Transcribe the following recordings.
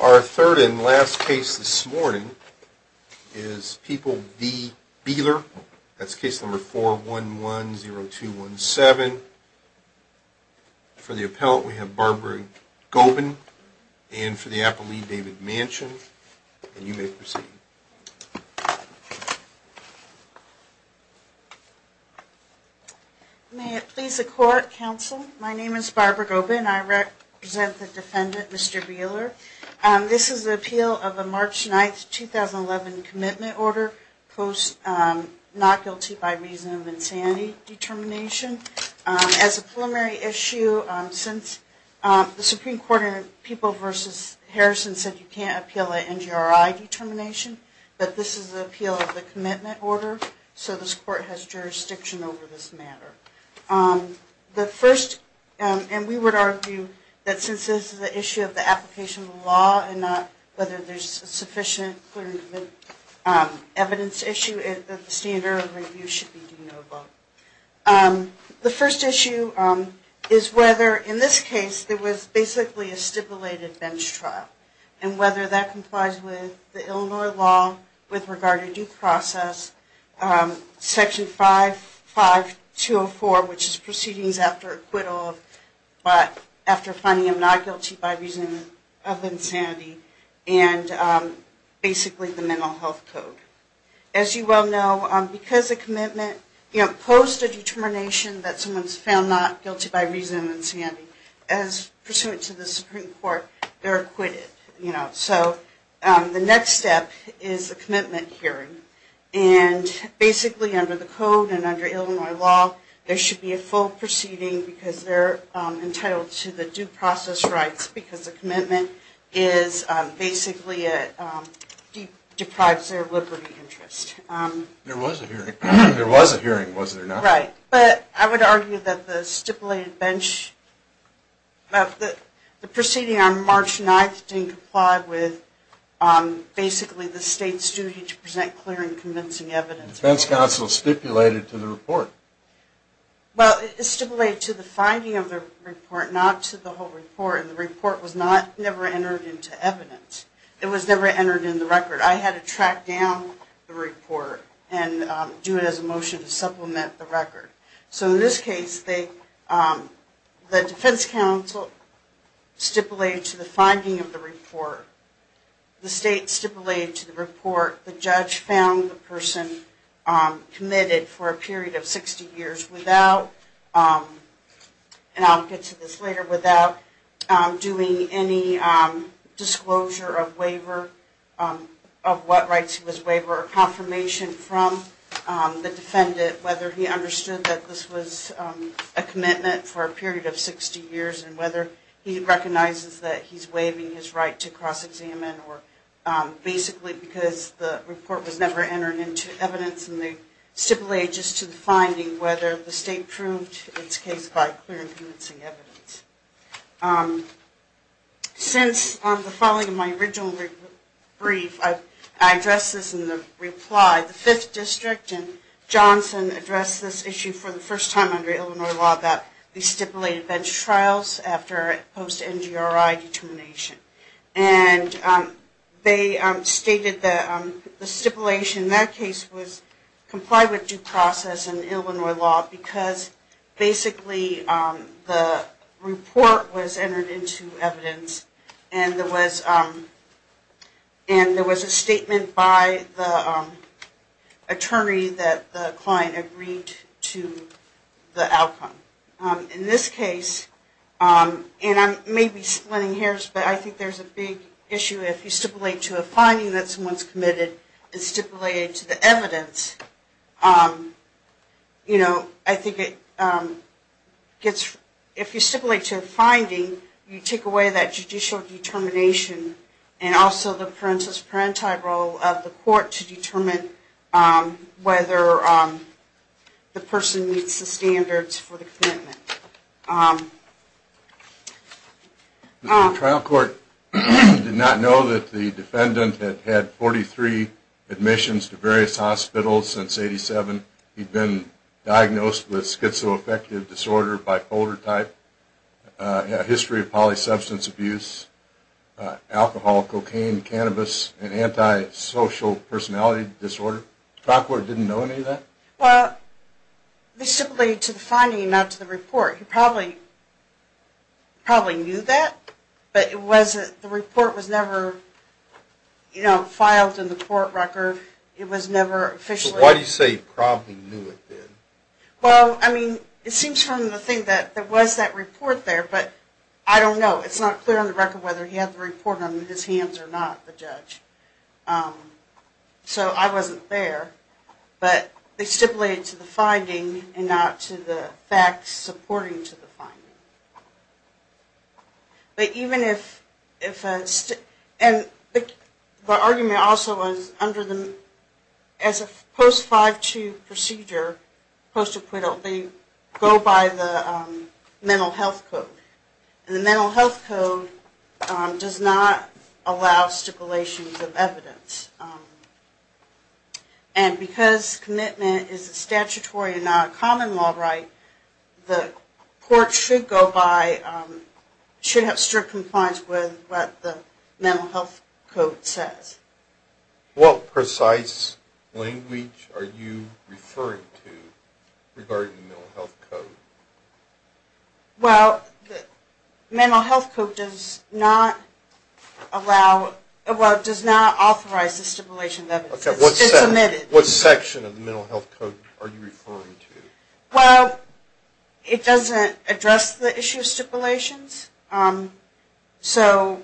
Our third and last case this morning is People v. Beeler. That's case number 411-0217. For the appellant we have Barbara Gobin and for the appellee, David Manchin. And you may proceed. Barbara Gobin May it please the Court, Counsel. My name is Barbara Gobin. I represent the defendant, Mr. Beeler. This is an appeal of a March 9, 2011, commitment order post not guilty by reason of insanity determination. As a preliminary issue, since the Supreme Court in People v. Harrison said you can't appeal an NGRI determination, but this is an appeal of the commitment order, so this Court has jurisdiction over this matter. The first, and we would argue that since this is an issue of the application of the law and not whether there's sufficient evidence to issue it, the standard of review should be do no vote. The first issue is whether, in this case, there was basically a stipulated bench trial and whether that complies with the Illinois law with regard to due process, Section 55204, which is proceedings after acquittal, but after finding him not guilty by reason of insanity, and basically the mental health code. As you well know, because a commitment, you know, post a determination that someone's found not guilty by reason of insanity, as pursuant to the Supreme Court, they're acquitted, you know. So the next step is a commitment hearing, and basically under the code and under Illinois law, there should be a full proceeding because they're entitled to the due process rights because the commitment basically deprives their liberty interest. There was a hearing, wasn't there not? Right, but I would argue that the stipulated bench, the proceeding on March 9th didn't comply with basically the state's duty to present clear and convincing evidence. The defense counsel stipulated to the report. Well, it stipulated to the finding of the report, not to the whole report, and the report was never entered into evidence. It was never entered in the record. I had to track down the report and do it as a motion to supplement the record. So in this case, the defense counsel stipulated to the finding of the report. The state stipulated to the report the judge found the person committed for a period of 60 years without, and I'll get to this later, without doing any disclosure of waiver, of what rights he was waiving, or confirmation from the defendant, whether he understood that this was a commitment for a period of 60 years and whether he recognizes that he's waiving his right to cross-examine, or basically because the report was never entered into evidence, and they stipulated just to the finding whether the state proved its case by clear and convincing evidence. Since the filing of my original brief, I addressed this in the reply. The 5th District and Johnson addressed this issue for the first time under Illinois law that we stipulated bench trials after post-NGRI determination. And they stated that the stipulation in that case was comply with due process in Illinois law because basically the report was entered into evidence and there was a statement by the attorney that the client agreed to the outcome. In this case, and I may be splitting hairs, but I think there's a big issue if you stipulate to a finding that someone's committed and stipulate it to the evidence. I think if you stipulate to a finding, you take away that judicial determination and also the parentis-parenti role of the court to determine whether the person meets the standards for the commitment. The trial court did not know that the defendant had had 43 admissions to various hospitals since 1987. He'd been diagnosed with schizoaffective disorder, bipolar type, a history of polysubstance abuse, alcohol, cocaine, cannabis, and antisocial personality disorder. The trial court didn't know any of that? Well, they stipulated to the finding, not to the report. He probably knew that, but the report was never filed in the court record. Why do you say he probably knew it then? Well, I mean, it seems from the thing that there was that report there, but I don't know. It's not clear on the record whether he had the report on his hands or not, the judge. So I wasn't there, but they stipulated to the finding and not to the facts supporting to the finding. But even if, and the argument also was under the, as a post-5-2 procedure, post-acquittal, they go by the mental health code. And the mental health code does not allow stipulations of evidence. And because commitment is a statutory and not a common law right, the court should go by, should have strict compliance with what the mental health code says. What precise language are you referring to regarding the mental health code? Well, the mental health code does not allow, well, does not authorize the stipulation of evidence. It's omitted. What section of the mental health code are you referring to? Well, it doesn't address the issue of stipulations. So,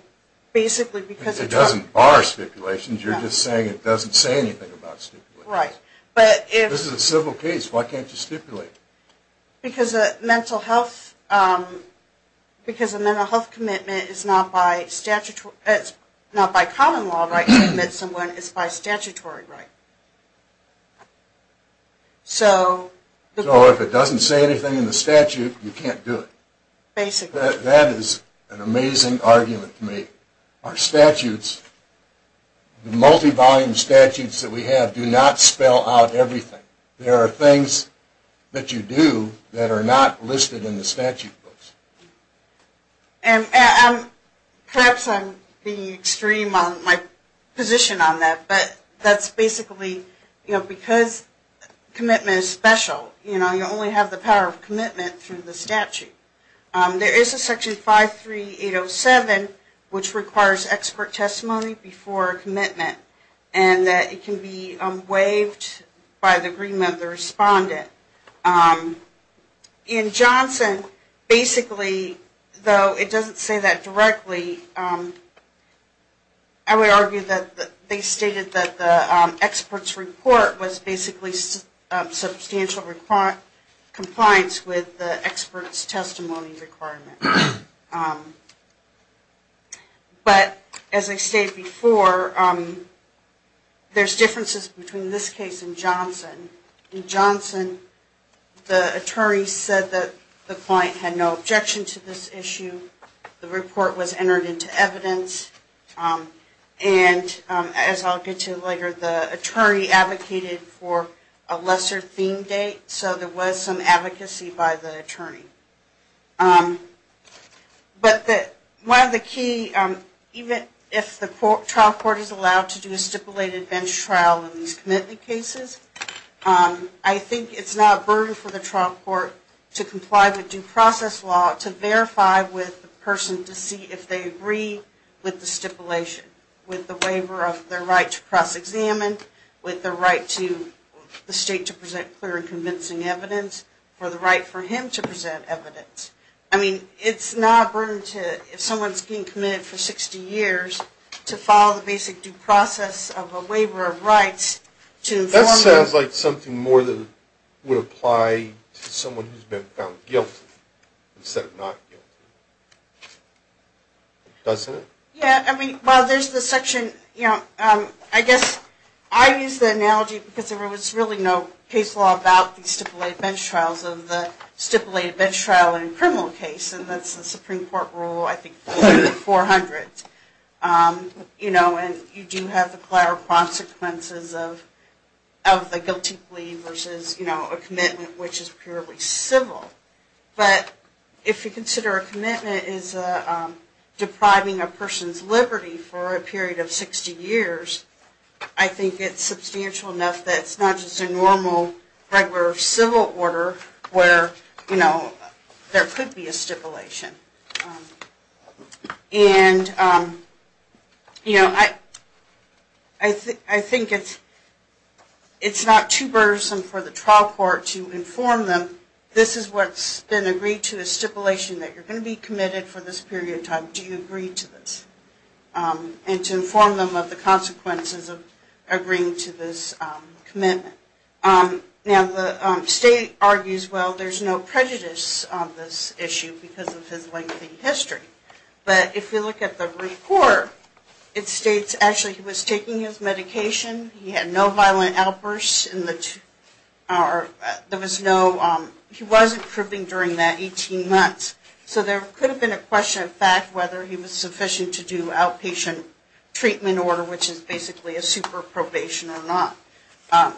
basically, because it doesn't… Because it doesn't bar stipulations, you're just saying it doesn't say anything about stipulations. Right, but if… This is a civil case. Why can't you stipulate? Because a mental health, because a mental health commitment is not by common law right to admit someone, it's by statutory right. So… So if it doesn't say anything in the statute, you can't do it. Basically. That is an amazing argument to make. Our statutes, the multi-volume statutes that we have do not spell out everything. There are things that you do that are not listed in the statute books. And perhaps I'm being extreme on my position on that, but that's basically, you know, because commitment is special, you know, you only have the power of commitment through the statute. There is a section 53807, which requires expert testimony before commitment, and that it can be waived by the agreement of the respondent. In Johnson, basically, though it doesn't say that directly, I would argue that they stated that the expert's report was basically substantial compliance with the expert's testimony requirement. But as I stated before, there's differences between this case and Johnson. In Johnson, the attorney said that the client had no objection to this issue. The report was entered into evidence. And as I'll get to later, the attorney advocated for a lesser theme date, so there was some advocacy by the attorney. But one of the key, even if the trial court is allowed to do a stipulated bench trial in these commitment cases, I think it's not a burden for the trial court to comply with due process law, to verify with the person to see if they agree with the stipulation, with the waiver of their right to cross-examine, with the right to the state to present clear and convincing evidence, or the right for him to present evidence. I mean, it's not a burden to, if someone's being committed for 60 years, to follow the basic due process of a waiver of rights to inform them. I'd like something more that would apply to someone who's been found guilty instead of not guilty. Doesn't it? Yeah, I mean, well, there's the section, you know, I guess I use the analogy because there was really no case law about the stipulated bench trials of the stipulated bench trial in a criminal case, and that's the Supreme Court rule, I think, 400. You know, and you do have the prior consequences of the guilty plea versus, you know, a commitment which is purely civil. But if you consider a commitment is depriving a person's liberty for a period of 60 years, I think it's substantial enough that it's not just a normal regular civil order where, you know, there could be a stipulation. And, you know, I think it's not too burdensome for the trial court to inform them, this is what's been agreed to, a stipulation that you're going to be committed for this period of time. Do you agree to this? And to inform them of the consequences of agreeing to this commitment. Now, the state argues, well, there's no prejudice on this issue because of his lengthy history. But if you look at the report, it states actually he was taking his medication, he had no violent outbursts, there was no, he wasn't cribbing during that 18 months. So there could have been a question of fact whether he was sufficient to do outpatient treatment order, which is basically a super probation or not.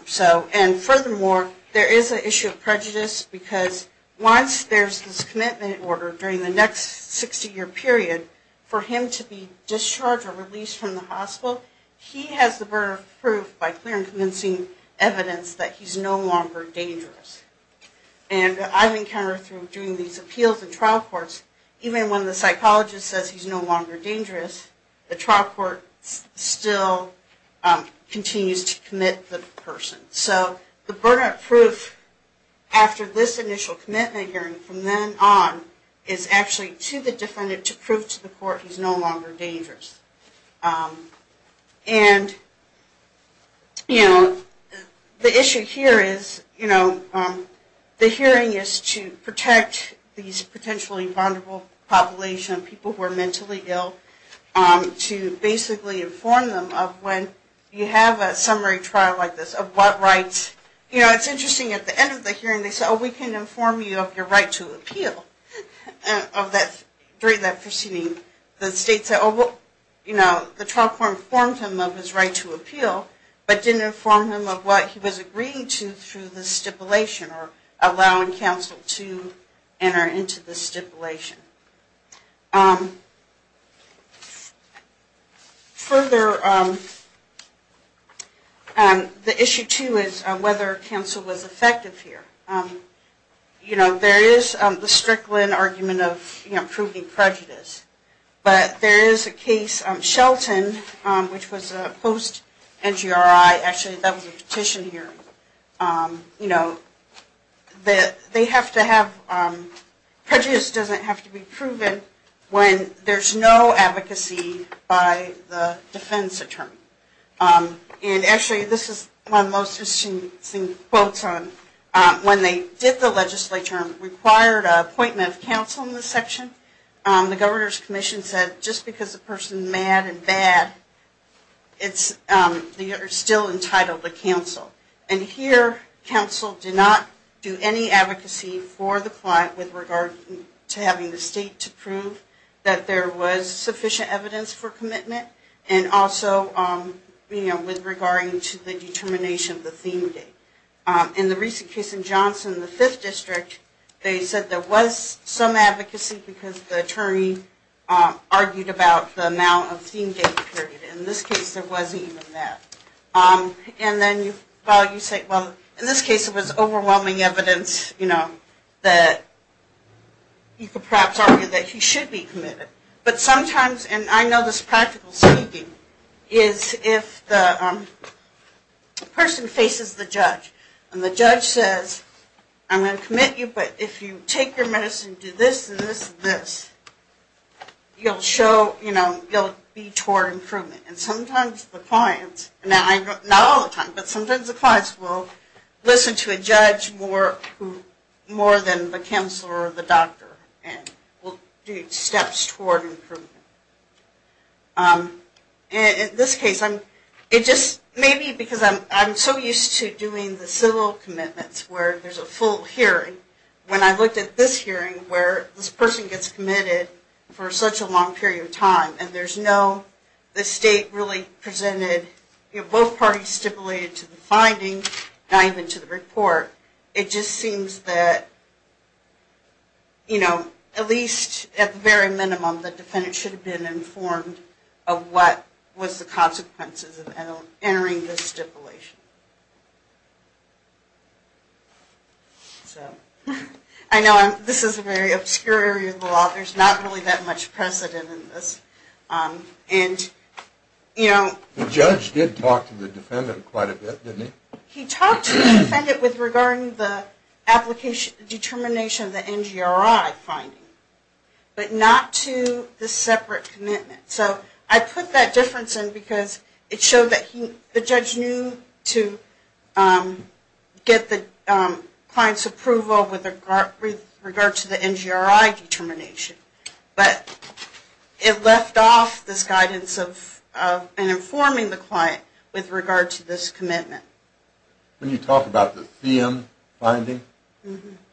So, and furthermore, there is an issue of prejudice because once there's this commitment order during the next 60 year period, for him to be discharged or released from the hospital, he has the burden of proof by clear and convincing evidence that he's no longer dangerous. And I've encountered through doing these appeals in trial courts, even when the psychologist says he's no longer dangerous, the trial court still continues to commit the person. So the burden of proof after this initial commitment hearing from then on, is actually to the defendant to prove to the court he's no longer dangerous. And, you know, the issue here is, you know, the hearing is to protect these potentially vulnerable populations, people who are mentally ill, to basically inform them of when you have a summary trial like this, of what rights, you know, it's interesting at the end of the hearing they say, oh, we can inform you of your right to appeal. During that proceeding, the state said, oh, you know, the trial court informed him of his right to appeal, but didn't inform him of what he was agreeing to through the stipulation or allowing counsel to enter into the stipulation. Further, the issue too is whether counsel was effective here. You know, there is the Strickland argument of, you know, proving prejudice. But there is a case, Shelton, which was a post-NGRI, actually that was a petition hearing. You know, they have to have, prejudice doesn't have to be proven when there's no advocacy by the defense attorney. And actually, this is one of the most interesting quotes. When they did the legislature and required an appointment of counsel in this section, the governor's commission said just because a person is mad and bad, they are still entitled to counsel. And here, counsel did not do any advocacy for the client with regard to having the state to prove that there was sufficient evidence for commitment and also, you know, with regard to the determination of the theme date. In the recent case in Johnson, the 5th District, they said there was some advocacy because the attorney argued about the amount of theme date period. In this case, there wasn't even that. And then you say, well, in this case, it was overwhelming evidence, you know, that you could perhaps argue that he should be committed. But sometimes, and I know this practical speaking, is if the person faces the judge and the judge says, I'm going to commit you, but if you take your medicine and do this and this and this, you'll show, you know, you'll be toward improvement. And sometimes the clients, not all the time, but sometimes the clients will listen to a judge more than the counselor or the doctor and will do steps toward improvement. In this case, it just may be because I'm so used to doing the civil commitments where there's a full hearing. When I looked at this hearing where this person gets committed for such a long period of time and there's no, the state really presented, you know, both parties stipulated to the finding, not even to the report, it just seems that, you know, at least at the very minimum, the defendant should have been informed of what was the consequences of entering this stipulation. So, I know this is a very obscure area of the law. There's not really that much precedent in this. And, you know. The judge did talk to the defendant quite a bit, didn't he? He talked to the defendant with regard to the determination of the NGRI finding, but not to the separate commitment. So, I put that difference in because it showed that the judge knew to get the client's approval with regard to the NGRI determination. But it left off this guidance of informing the client with regard to this commitment. When you talk about the Thiem finding,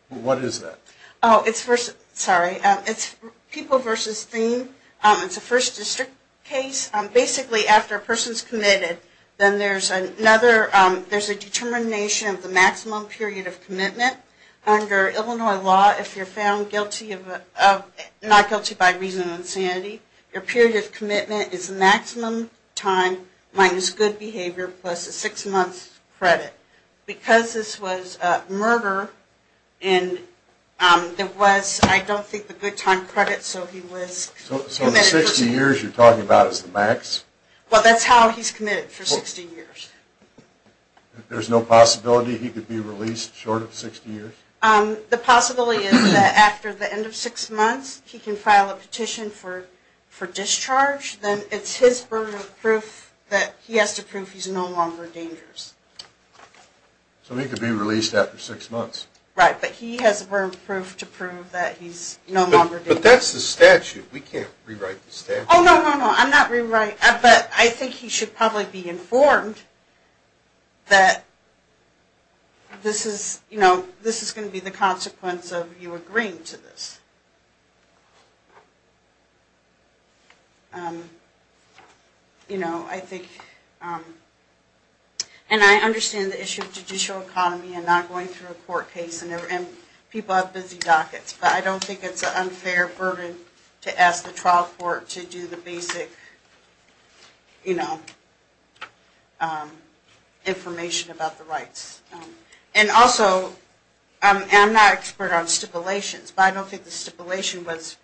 what is that? Oh, it's versus, sorry. It's people versus Thiem. It's a first district case. Basically, after a person's committed, then there's another, there's a determination of the maximum period of commitment. Under Illinois law, if you're found guilty of, not guilty by reason of insanity, your period of commitment is the maximum time minus good behavior plus a six-month credit. Because this was a murder, and there was, I don't think the good time credit, so he was. So, the 60 years you're talking about is the max? Well, that's how he's committed for 60 years. There's no possibility he could be released short of 60 years? The possibility is that after the end of six months, he can file a petition for discharge. Then it's his burden of proof that he has to prove he's no longer dangerous. So, he could be released after six months? Right, but he has a burden of proof to prove that he's no longer dangerous. But that's the statute. We can't rewrite the statute. Oh, no, no, no. But I think he should probably be informed that this is going to be the consequence of you agreeing to this. And I understand the issue of judicial economy and not going through a court case, and people have busy dockets, but I don't think it's an unfair burden to ask the trial court to do the basic information about the rights. And also, I'm not an expert on stipulations, but I don't think the stipulation was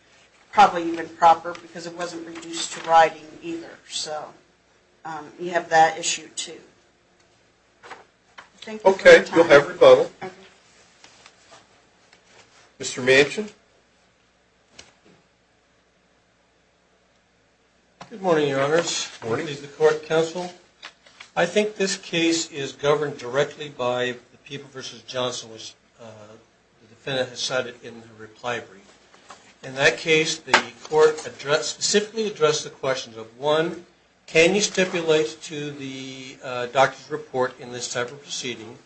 probably even proper because it wasn't reduced to writing either. So, you have that issue, too. Thank you for your time. Okay, you'll have rebuttal. Okay. Mr. Manchin? Good morning, Your Honors. Good morning. This is the Court Counsel. I think this case is governed directly by the People v. Johnson, which the defendant has cited in her reply brief. In that case, the Court specifically addressed the questions of, one, can you stipulate to the doctor's report in this type of proceeding?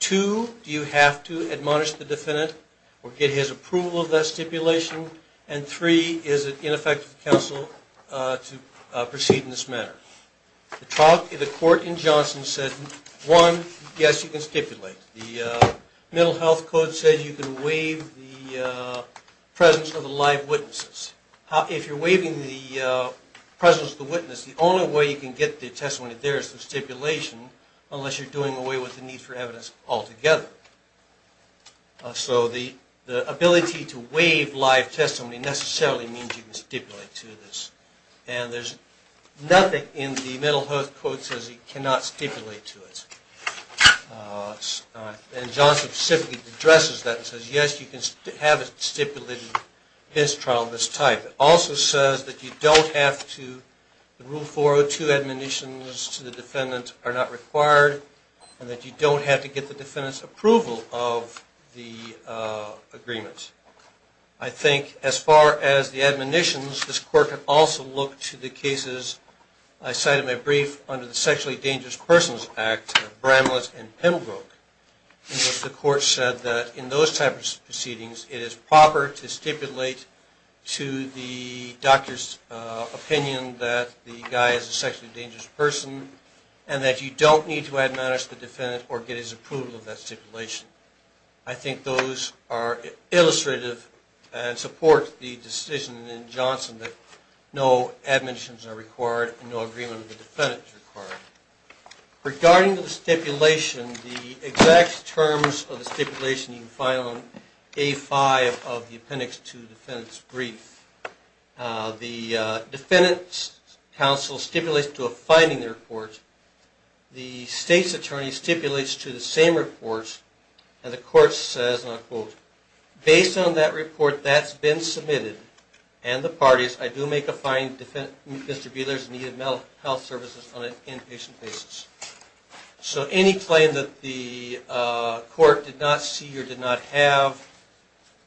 Two, do you have to admonish the defendant or get his approval of that stipulation? And three, is it ineffective to counsel to proceed in this manner? The court in Johnson said, one, yes, you can stipulate. The Mental Health Code says you can waive the presence of the live witnesses. If you're waiving the presence of the witness, the only way you can get the testimony there is through stipulation unless you're doing away with the need for evidence altogether. So, the ability to waive live testimony necessarily means you can stipulate to this. And there's nothing in the Mental Health Code that says you cannot stipulate to it. And Johnson specifically addresses that and says, yes, you can have it stipulated in this trial in this type. It also says that you don't have to, the Rule 402 admonitions to the defendant are not required, and that you don't have to get the defendant's approval of the agreement. I think as far as the admonitions, this Court can also look to the cases, I cited in my brief, under the Sexually Dangerous Persons Act of Bramlett and Pembroke. The Court said that in those types of proceedings, it is proper to stipulate to the doctor's opinion that the guy is a sexually dangerous person, and that you don't need to admonish the defendant or get his approval of that stipulation. I think those are illustrative and support the decision in Johnson that no admonitions are required, and no agreement with the defendant is required. Regarding the stipulation, the exact terms of the stipulation you can find on A5 of the Appendix 2 Defendant's Brief. The Defendant's Counsel stipulates to a finding in the report, the State's Attorney stipulates to the same report, and the Court says, and I'll quote, based on that report that's been submitted, and the parties, I do make a finding that Mr. Bieler is in need of mental health services on an inpatient basis. So any claim that the Court did not see or did not have,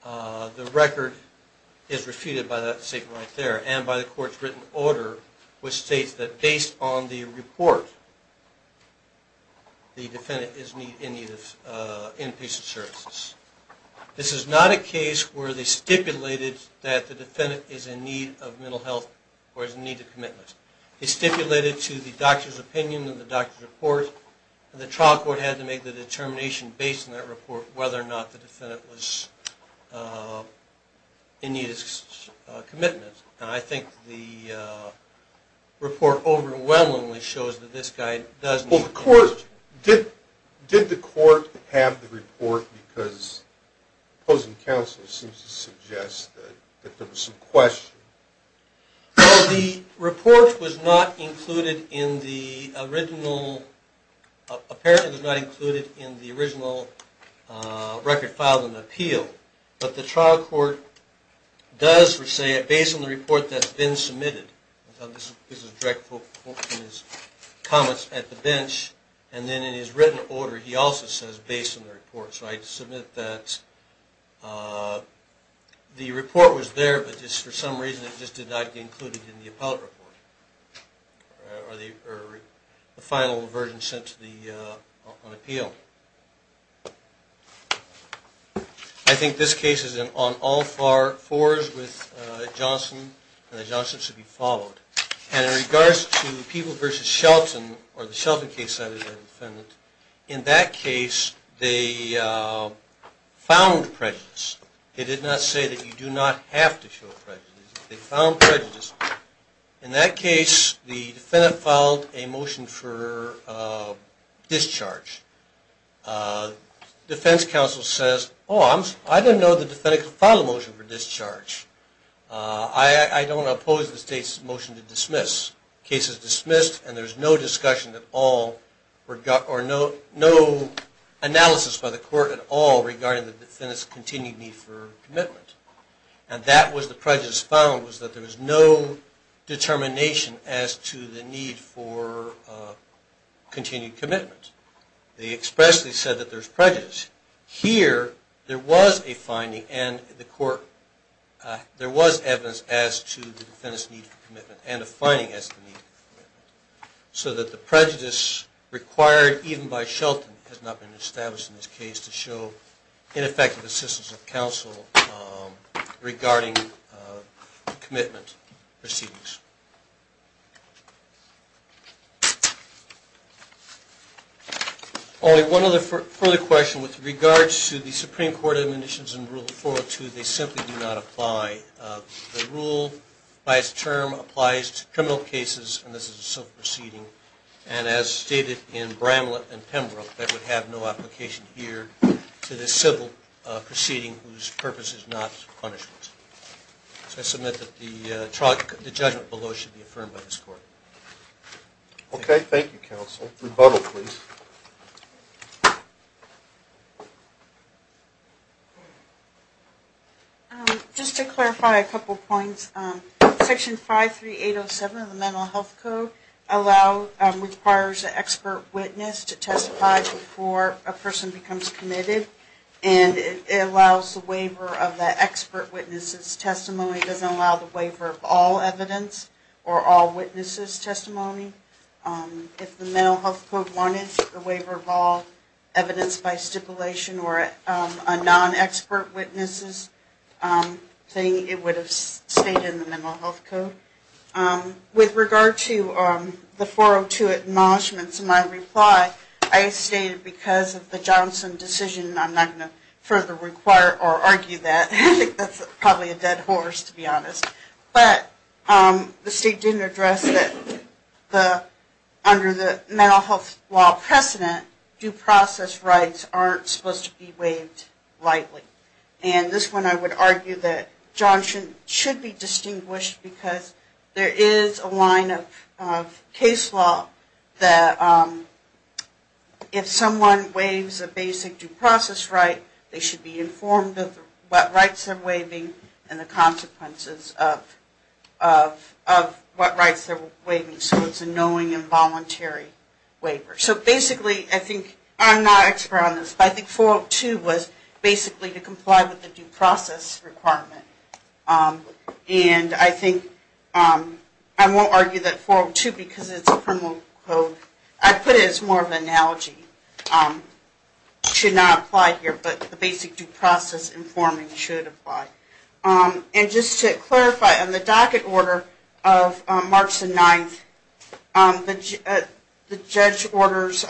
the record is refuted by that statement right there, and by the Court's written order, which states that based on the report, the defendant is in need of inpatient services. This is not a case where they stipulated that the defendant is in need of mental health or is in need of commitments. It's stipulated to the doctor's opinion and the doctor's report, and the trial court had to make the determination based on that report whether or not the defendant was in need of commitments. And I think the report overwhelmingly shows that this guy does need commitments. Well, the Court, did the Court have the report because opposing counsel seems to suggest that there was some question? Well, the report was not included in the original, apparently it was not included in the original record filed in the appeal, but the trial court does say based on the report that's been submitted, this is direct quote from his comments at the bench, and then in his written order he also says based on the report. So I submit that the report was there, but just for some reason it just did not get included in the appellate report, or the final version sent to the appeal. I think this case is on all fours with Johnson, and that Johnson should be followed. And in regards to People v. Shelton, or the Shelton case, in that case they found prejudice. It did not say that you do not have to show prejudice. They found prejudice. In that case, the defendant filed a motion for discharge. Defense counsel says, oh, I didn't know the defendant could file a motion for discharge. I don't oppose the State's motion to dismiss. The case is dismissed, and there's no discussion at all, or no analysis by the Court at all regarding the defendant's continued need for commitment. And that was the prejudice found, was that there was no determination as to the need for continued commitment. They expressly said that there's prejudice. Here, there was a finding, and the Court, there was evidence as to the defendant's need for commitment, and a finding as to the need for commitment. So that the prejudice required even by Shelton has not been established in this case to show ineffective assistance of counsel regarding commitment proceedings. Only one other further question. With regards to the Supreme Court admonitions in Rule 402, they simply do not apply. The rule, by its term, applies to criminal cases, and this is a self-proceeding. And as stated in Bramlett and Pembroke, that would have no application here to this civil proceeding whose purpose is not punishment. So I submit that the judgment below should be affirmed by this Court. Okay, thank you, counsel. Rebuttal, please. Just to clarify a couple points, Section 53807 of the Mental Health Code requires an expert witness to testify before a person becomes committed. And it allows the waiver of the expert witness's testimony. It doesn't allow the waiver of all evidence or all witness's testimony. If the Mental Health Code wanted the waiver of all evidence by stipulation or a non-expert witness's thing, it would have stayed in the Mental Health Code. With regard to the 402 admonishments, my reply, I stated because of the Johnson decision, I'm not going to further require or argue that. I think that's probably a dead horse, to be honest. But the state didn't address that under the mental health law precedent, due process rights aren't supposed to be waived lightly. And this one I would argue that Johnson should be distinguished because there is a line of case law that if someone waives a basic due process right, they should be informed of what rights they're waiving and the consequences of what rights they're waiving. So it's a knowing and voluntary waiver. So basically, I think, I'm not an expert on this, but I think 402 was basically to comply with the due process requirement. And I think, I won't argue that 402 because it's a criminal code. I put it as more of an analogy. Should not apply here, but the basic due process informing should apply. And just to clarify, on the docket order of March the 9th, the judge orders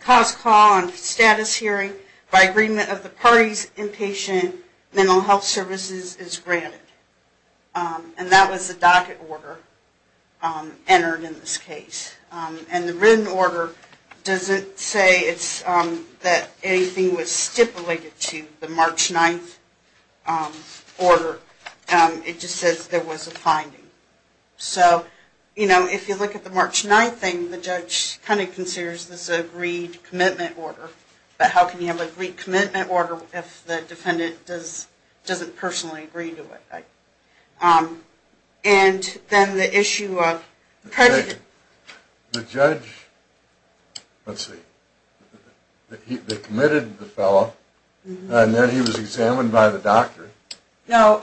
cause, call, and status hearing by agreement of the parties, inpatient, mental health services is granted. And that was the docket order entered in this case. And the written order doesn't say that anything was stipulated to the March 9th order. It just says there was a finding. So, you know, if you look at the March 9th thing, the judge kind of considers this an agreed commitment order. But how can you have an agreed commitment order if the defendant doesn't personally agree to it? And then the issue of predicate. The judge, let's see, they committed the fellow, and then he was examined by the doctor. No,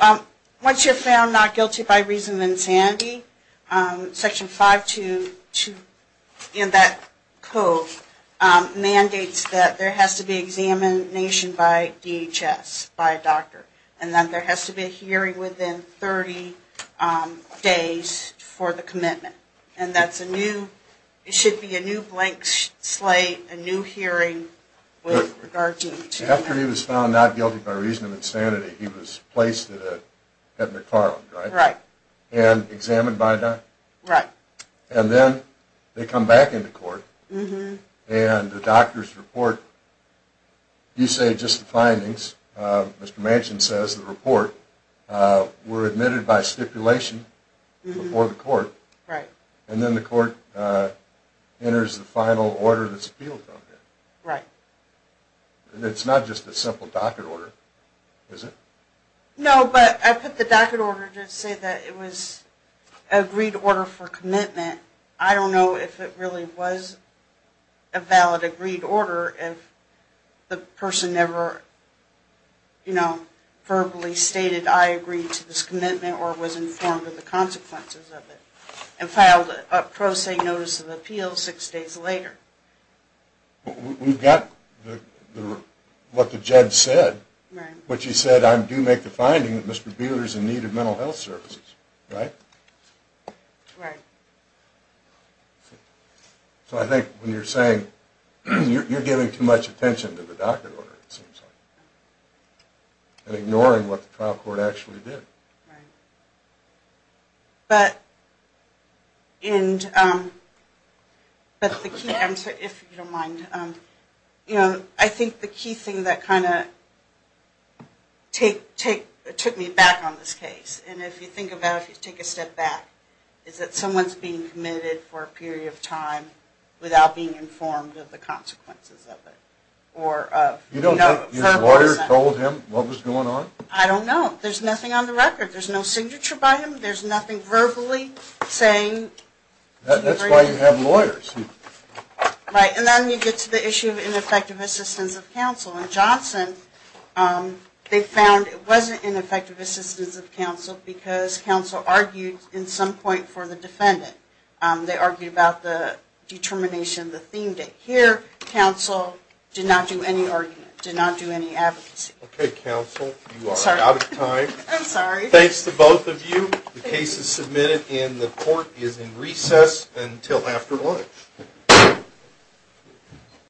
once you're found not guilty by reason of insanity, section 522 in that code mandates that there has to be examination by DHS, by a doctor. And that there has to be a hearing within 30 days for the commitment. And that's a new, it should be a new blank slate, a new hearing. After he was found not guilty by reason of insanity, he was placed at McFarland, right? Right. And examined by a doctor? Right. And then they come back into court, and the doctor's report, you say just the findings. Mr. Manchin says the report were admitted by stipulation before the court. Right. And then the court enters the final order that's appealed from him. Right. And it's not just a simple docket order, is it? No, but I put the docket order to say that it was an agreed order for commitment. I don't know if it really was a valid agreed order if the person never, you know, verbally stated, I agree to this commitment or was informed of the consequences of it, and filed a pro se notice of appeal six days later. We've got what the judge said, which he said, I do make the finding that Mr. Buehler's in need of mental health services, right? Right. So I think when you're saying, you're giving too much attention to the docket order, it seems like, and ignoring what the trial court actually did. Right. But, and, but the key answer, if you don't mind, you know, I think the key thing that kind of took me back on this case, and if you think about it, if you take a step back, is that someone's being committed for a period of time without being informed of the consequences of it. You don't have your lawyer told him what was going on? I don't know. There's nothing on the record. There's no signature by him. There's nothing verbally saying. That's why you have lawyers. Right. And then you get to the issue of ineffective assistance of counsel. In Johnson, they found it wasn't ineffective assistance of counsel because counsel argued in some point for the defendant. They argued about the determination, the theme date. Here, counsel did not do any argument, did not do any advocacy. Okay, counsel, you are out of time. I'm sorry. Thanks to both of you. The case is submitted, and the court is in recess until after lunch.